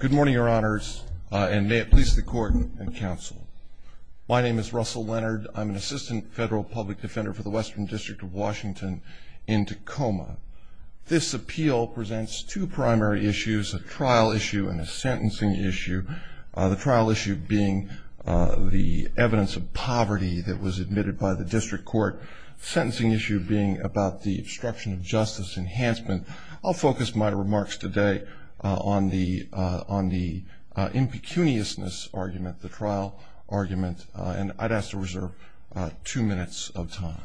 Good morning, your honors, and may it please the court and counsel. My name is Russell Leonard. I'm an assistant federal public defender for the Western District of Washington in Tacoma. This appeal presents two primary issues, a trial issue and a sentencing issue. The trial issue being the evidence of poverty that was admitted by the district court. The sentencing issue being about the obstruction of justice enhancement. I'll focus my remarks today on the impecuniousness argument, the trial argument, and I'd ask to reserve two minutes of time.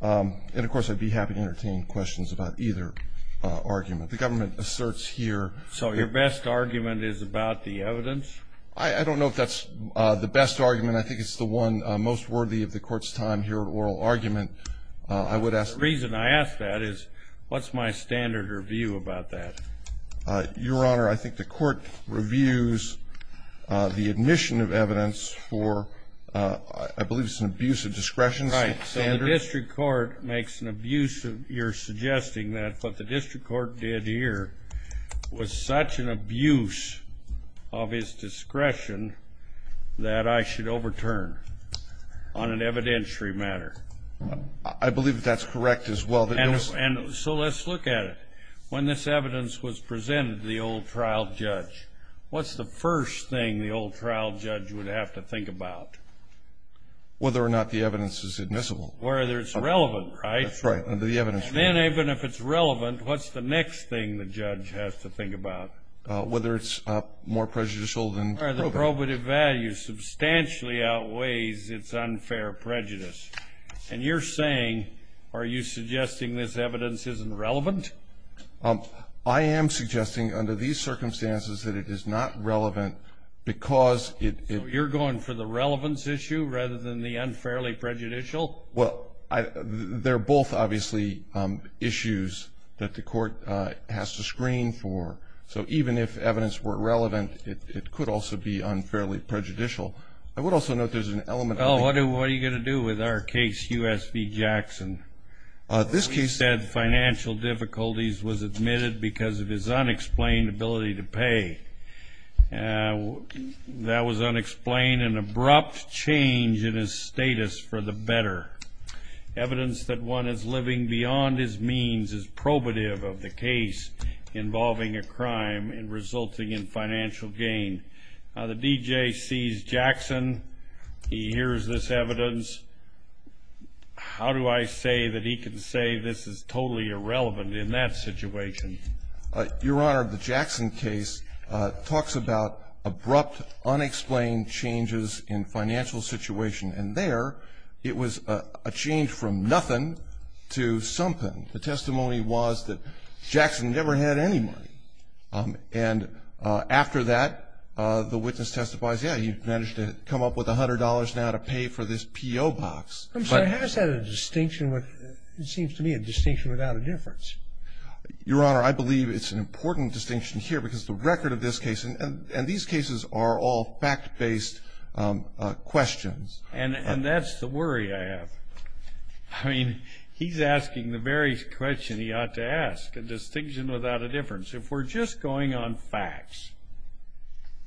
And of course I'd be happy to entertain questions about either argument. The government asserts here... So your best argument is about the evidence? I don't know if that's the best argument. I think it's the one most worthy of the court's time here at oral argument. I would ask... The reason I ask that is, what's my standard review about that? Your honor, I think the court reviews the admission of evidence for, I believe it's an abuse of discretion. Right. So the district court makes an abuse of, you're suggesting that what the district court did here was such an abuse of his discretion that I should overturn on an evidentiary matter. I believe that that's correct as well. And so let's look at it. When this evidence was presented to the old trial judge, what's the first thing the old trial judge would have to think about? Whether or not the evidence is admissible. Or whether it's relevant, right? That's right. Under the evidence... And then even if it's relevant, what's the next thing the judge has to think about? Whether it's more prejudicial than probative. Or the probative value substantially outweighs its unfair prejudice. And you're saying, are you suggesting this evidence isn't relevant? I am suggesting under these circumstances that it is not relevant because it... So you're going for the relevance issue rather than the unfairly prejudicial? Well, they're both obviously issues that the court has to screen for. So even if evidence were relevant, it could also be unfairly prejudicial. I would also note there's an element... Well, what are you going to do with our case, U.S. v. Jackson? This case... ...an abrupt change in his status for the better. Evidence that one is living beyond his means is probative of the case involving a crime and resulting in financial gain. Now, the D.J. sees Jackson. He hears this evidence. How do I say that he can say this is totally irrelevant in that situation? Your Honor, the Jackson case talks about abrupt, unexplained changes in financial situation. And there, it was a change from nothing to something. The testimony was that Jackson never had any money. And after that, the witness testifies, yeah, he managed to come up with $100 now to pay for this P.O. box. But has that a distinction with... It seems to me a distinction without a difference. Your Honor, I believe it's an important distinction here because the record of this case and these cases are all fact-based questions. And that's the worry I have. I mean, he's asking the very question he ought to ask, a distinction without a difference. If we're just going on facts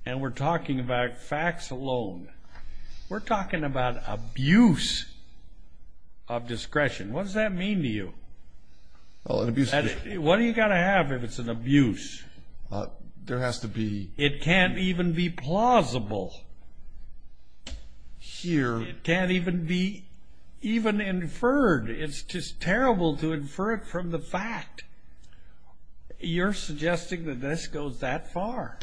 and we're talking about facts alone, we're talking about abuse of discretion. What does that mean to you? What do you got to have if it's an abuse? There has to be... It can't even be plausible. Here... It can't even be inferred. It's just terrible to infer it from the fact. You're suggesting that this goes that far.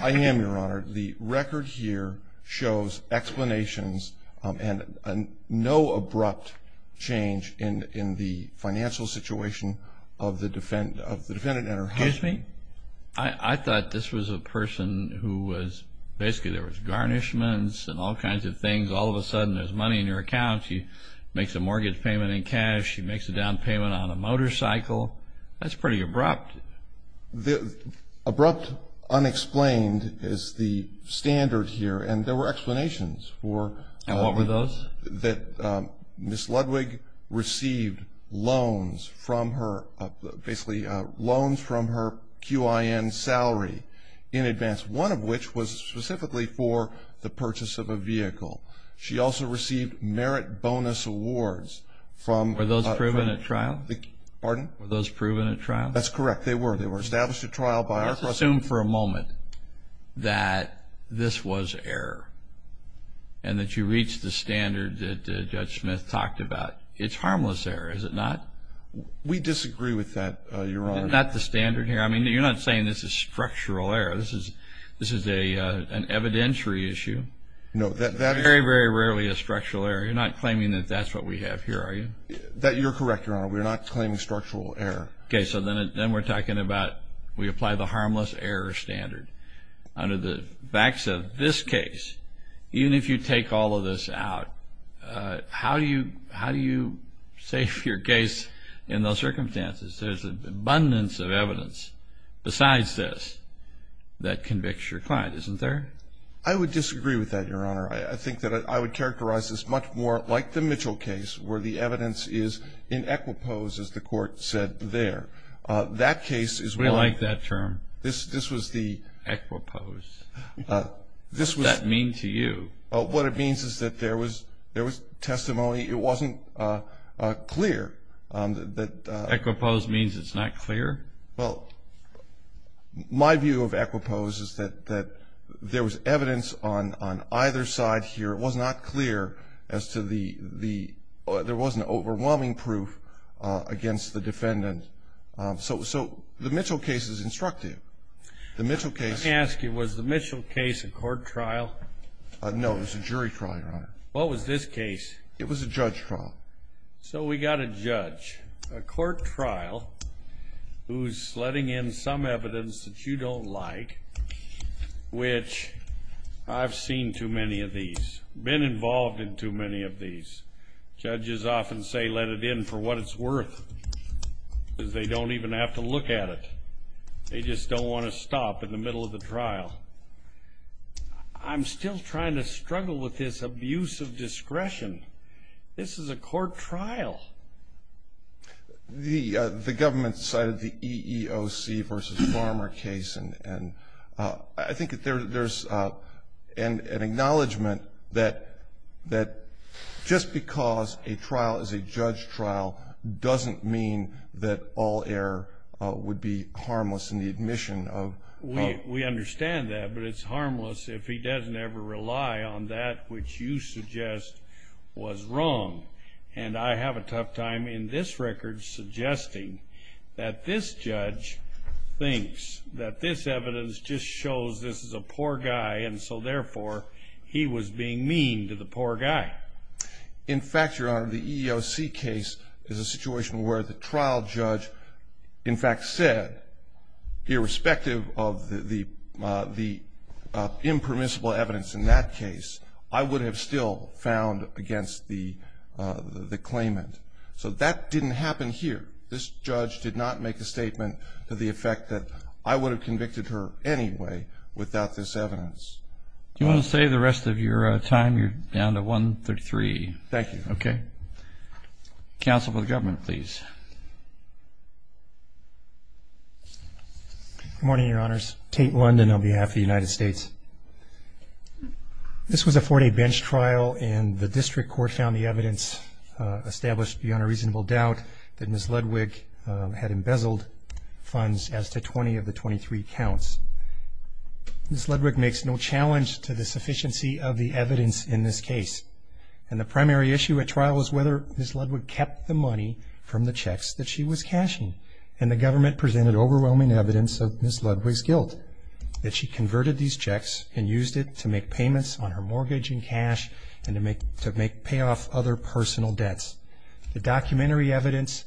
I am, Your Honor. The record here shows explanations and no abrupt change in the financial situation of the defendant and her husband. Excuse me? I thought this was a person who was... Basically, there was garnishments and all kinds of things. All of a sudden, there's money in your account. She makes a mortgage payment in cash. She makes a down payment on a motorcycle. That's pretty abrupt. Abrupt, unexplained is the standard here, and there were explanations for... And what were those? That Ms. Ludwig received loans from her... Basically, loans from her QIN salary in advance, one of which was specifically for the purchase of a vehicle. She also received merit bonus awards from... Were those proven at trial? Pardon? Were those proven at trial? That's correct. They were. They were established at trial by our... Let's assume for a moment that this was error and that you reached the standard that Judge Smith talked about. It's harmless error, is it not? We disagree with that, Your Honor. Not the standard here? I mean, you're not saying this is structural error. This is an evidentiary issue. No, that is... It's very, very rarely a structural error. You're not claiming that that's what we have here, are you? You're correct, Your Honor. We're not claiming structural error. Okay, so then we're talking about we apply the harmless error standard. Under the facts of this case, even if you take all of this out, how do you save your case in those circumstances? There's an abundance of evidence besides this that convicts your client, isn't there? I would disagree with that, Your Honor. I think that I would characterize this much more like the Mitchell case where the evidence is in equipose, as the court said there. That case is... We like that term. This was the... Equipose. What does that mean to you? What it means is that there was testimony. It wasn't clear that... Equipose means it's not clear? Well, my view of equipose is that there was evidence on either side here. It was not clear as to the... There wasn't overwhelming proof against the defendant. So the Mitchell case is instructive. The Mitchell case... Let me ask you, was the Mitchell case a court trial? No, it was a jury trial, Your Honor. What was this case? It was a judge trial. So we got a judge. A court trial who's letting in some evidence that you don't like, which I've seen too many of these, been involved in too many of these. Judges often say let it in for what it's worth because they don't even have to look at it. They just don't want to stop in the middle of the trial. I'm still trying to struggle with this abuse of discretion. This is a court trial. The government cited the EEOC versus Farmer case, and I think that there's an acknowledgement that just because a trial is a judge trial doesn't mean that all error would be harmless in the admission of... We understand that, but it's harmless if he doesn't ever rely on that which you suggest was wrong. And I have a tough time in this record suggesting that this judge thinks that this evidence just shows this is a poor guy, and so therefore he was being mean to the poor guy. In fact, Your Honor, the EEOC case is a situation where the trial judge in fact said, irrespective of the impermissible evidence in that case, I would have still found against the claimant. So that didn't happen here. This judge did not make a statement to the effect that I would have convicted her anyway without this evidence. Do you want to save the rest of your time? You're down to 1.33. Thank you. Okay. Counsel for the government, please. Good morning, Your Honors. Tate London on behalf of the United States. This was a four-day bench trial, and the district court found the evidence established beyond a reasonable doubt that Ms. Ludwig had embezzled funds as to 20 of the 23 counts. Ms. Ludwig makes no challenge to the sufficiency of the evidence in this case, and the primary issue at trial is whether Ms. Ludwig kept the money from the checks that she was cashing, and the government presented overwhelming evidence of Ms. Ludwig's guilt that she converted these checks and used it to make payments on her mortgage and cash and to pay off other personal debts. The documentary evidence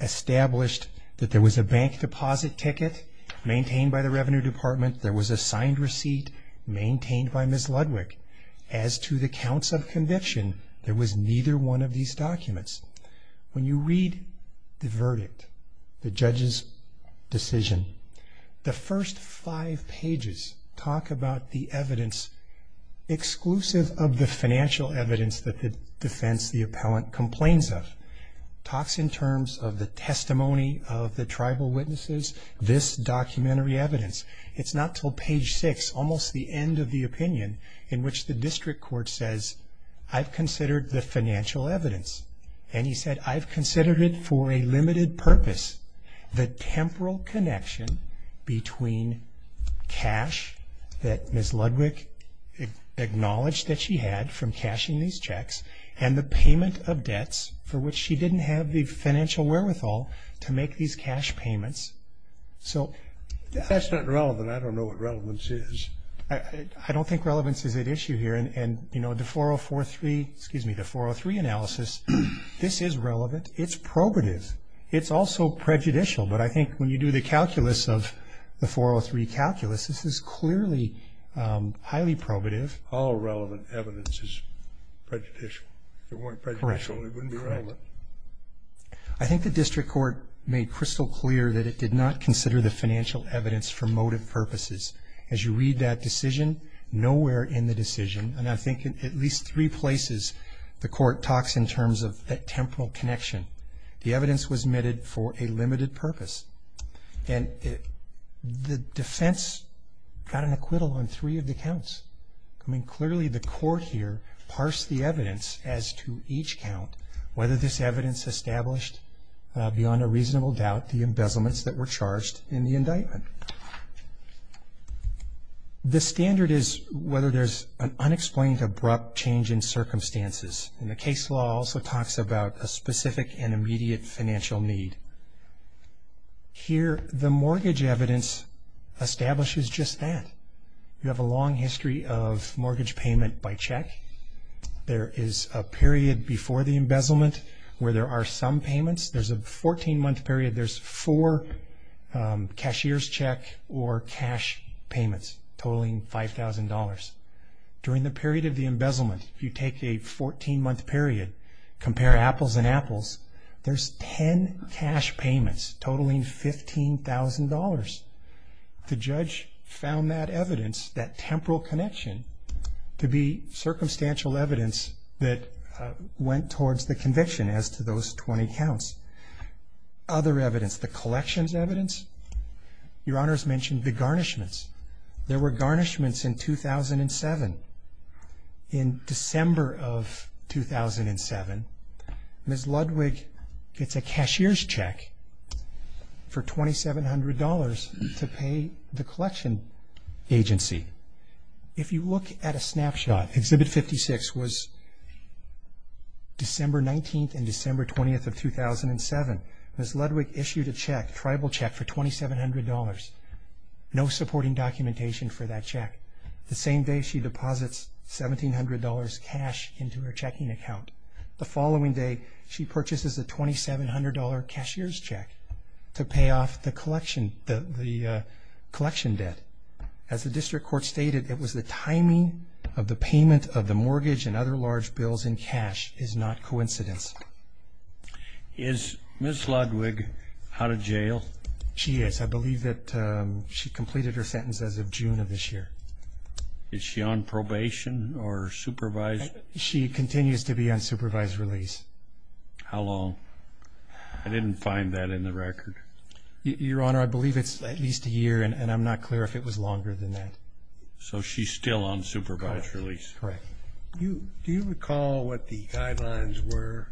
established that there was a bank deposit ticket maintained by the Revenue Department. There was a signed receipt maintained by Ms. Ludwig. As to the counts of conviction, there was neither one of these documents. When you read the verdict, the judge's decision, the first five pages talk about the evidence exclusive of the financial evidence that the defense, the appellant, complains of. It talks in terms of the testimony of the tribal witnesses, this documentary evidence. It's not until page six, almost the end of the opinion, in which the district court says, I've considered the financial evidence, and he said, I've considered it for a limited purpose. The temporal connection between cash that Ms. Ludwig acknowledged that she had from cashing these checks and the payment of debts for which she didn't have the financial wherewithal to make these cash payments. So that's not relevant. I don't know what relevance is. I don't think relevance is at issue here. The 403 analysis, this is relevant. It's probative. It's also prejudicial, but I think when you do the calculus of the 403 calculus, this is clearly highly probative. All relevant evidence is prejudicial. If it weren't prejudicial, it wouldn't be relevant. Correct. I think the district court made crystal clear that it did not consider the financial evidence for motive purposes. As you read that decision, nowhere in the decision, and I think in at least three places the court talks in terms of that temporal connection, the evidence was omitted for a limited purpose. And the defense got an acquittal on three of the counts. I mean, clearly the court here parsed the evidence as to each count, whether this evidence established, beyond a reasonable doubt, the embezzlements that were charged in the indictment. The standard is whether there's an unexplained, abrupt change in circumstances. And the case law also talks about a specific and immediate financial need. Here, the mortgage evidence establishes just that. You have a long history of mortgage payment by check. There is a period before the embezzlement where there are some payments. There's a 14-month period. There's four cashier's check or cash payments totaling $5,000. During the period of the embezzlement, if you take a 14-month period, compare apples and apples, there's 10 cash payments totaling $15,000. The judge found that evidence, that temporal connection, to be circumstantial evidence that went towards the conviction as to those 20 counts. Other evidence, the collections evidence. Your Honors mentioned the garnishments. There were garnishments in 2007. In December of 2007, Ms. Ludwig gets a cashier's check for $2,700 to pay the collection agency. If you look at a snapshot, Exhibit 56 was December 19th and December 20th of 2007. Ms. Ludwig issued a check, tribal check, for $2,700. No supporting documentation for that check. The same day, she deposits $1,700 cash into her checking account. The following day, she purchases a $2,700 cashier's check to pay off the collection debt. As the district court stated, it was the timing of the payment of the mortgage and other large bills in cash is not coincidence. Is Ms. Ludwig out of jail? She is. I believe that she completed her sentence as of June of this year. Is she on probation or supervised? She continues to be on supervised release. How long? I didn't find that in the record. Your Honor, I believe it's at least a year, and I'm not clear if it was longer than that. So she's still on supervised release. Correct. Do you recall what the guidelines were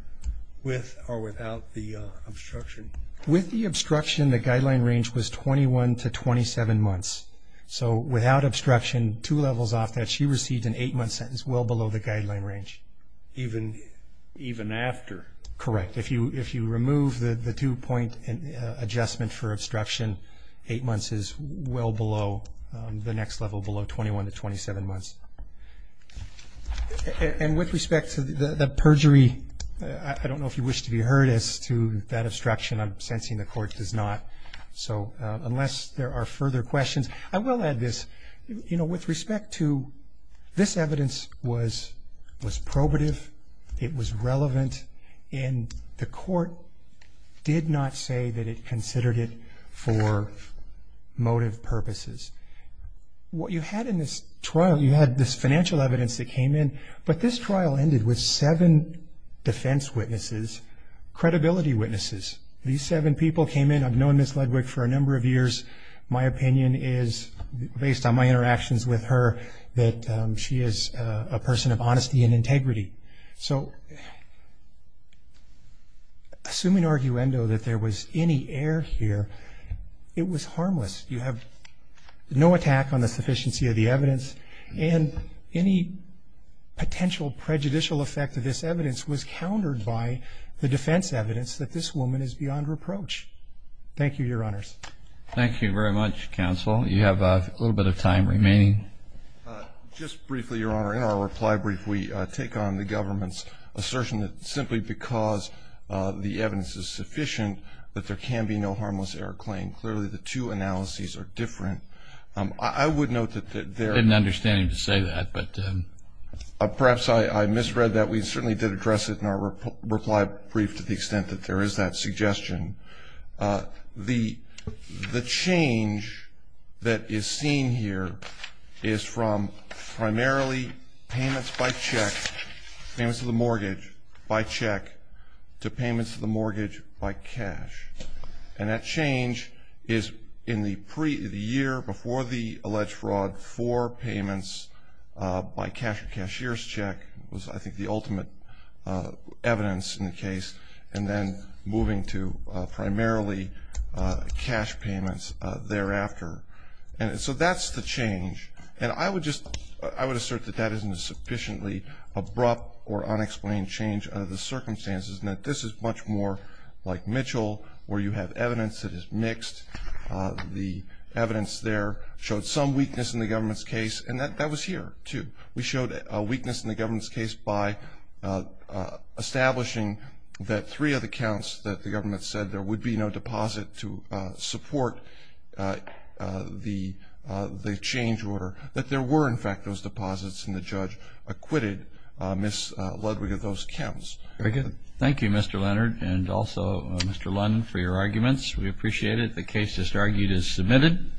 with or without the obstruction? With the obstruction, the guideline range was 21 to 27 months. So without obstruction, two levels off that, she received an eight-month sentence well below the guideline range. Even after? Correct. If you remove the two-point adjustment for obstruction, eight months is well below the next level, below 21 to 27 months. And with respect to the perjury, I don't know if you wish to be heard as to that obstruction. I'm sensing the Court does not. So unless there are further questions, I will add this. You know, with respect to this evidence was probative, it was relevant, and the Court did not say that it considered it for motive purposes. What you had in this trial, you had this financial evidence that came in, but this trial ended with seven defense witnesses, credibility witnesses. These seven people came in. I've known Ms. Ledwick for a number of years. My opinion is, based on my interactions with her, that she is a person of honesty and integrity. So assuming arguendo that there was any error here, it was harmless. You have no attack on the sufficiency of the evidence, and any potential prejudicial effect of this evidence was countered by the defense evidence that this woman is beyond reproach. Thank you, Your Honors. Thank you very much, Counsel. You have a little bit of time remaining. Just briefly, Your Honor, in our reply brief, we take on the government's assertion that simply because the evidence is sufficient that there can be no harmless error claim. Clearly, the two analyses are different. I would note that there are. I didn't understand him to say that, but. Perhaps I misread that. We certainly did address it in our reply brief to the extent that there is that suggestion. The change that is seen here is from primarily payments by check, payments of the mortgage by check, to payments of the mortgage by cash. And that change is in the year before the alleged fraud for payments by cash or cashier's check was, I think, the ultimate evidence in the case, and then moving to primarily cash payments thereafter. And so that's the change. And I would assert that that isn't a sufficiently abrupt or unexplained change of the circumstances. This is much more like Mitchell where you have evidence that is mixed. The evidence there showed some weakness in the government's case, and that was here, too. We showed a weakness in the government's case by establishing that three of the counts that the government said there would be no deposit to support the change order, that there were, in fact, those deposits, and the judge acquitted Ms. Ludwig of those counts. Very good. Thank you, Mr. Leonard, and also Mr. Lunn, for your arguments. We appreciate it. The case that's argued is submitted.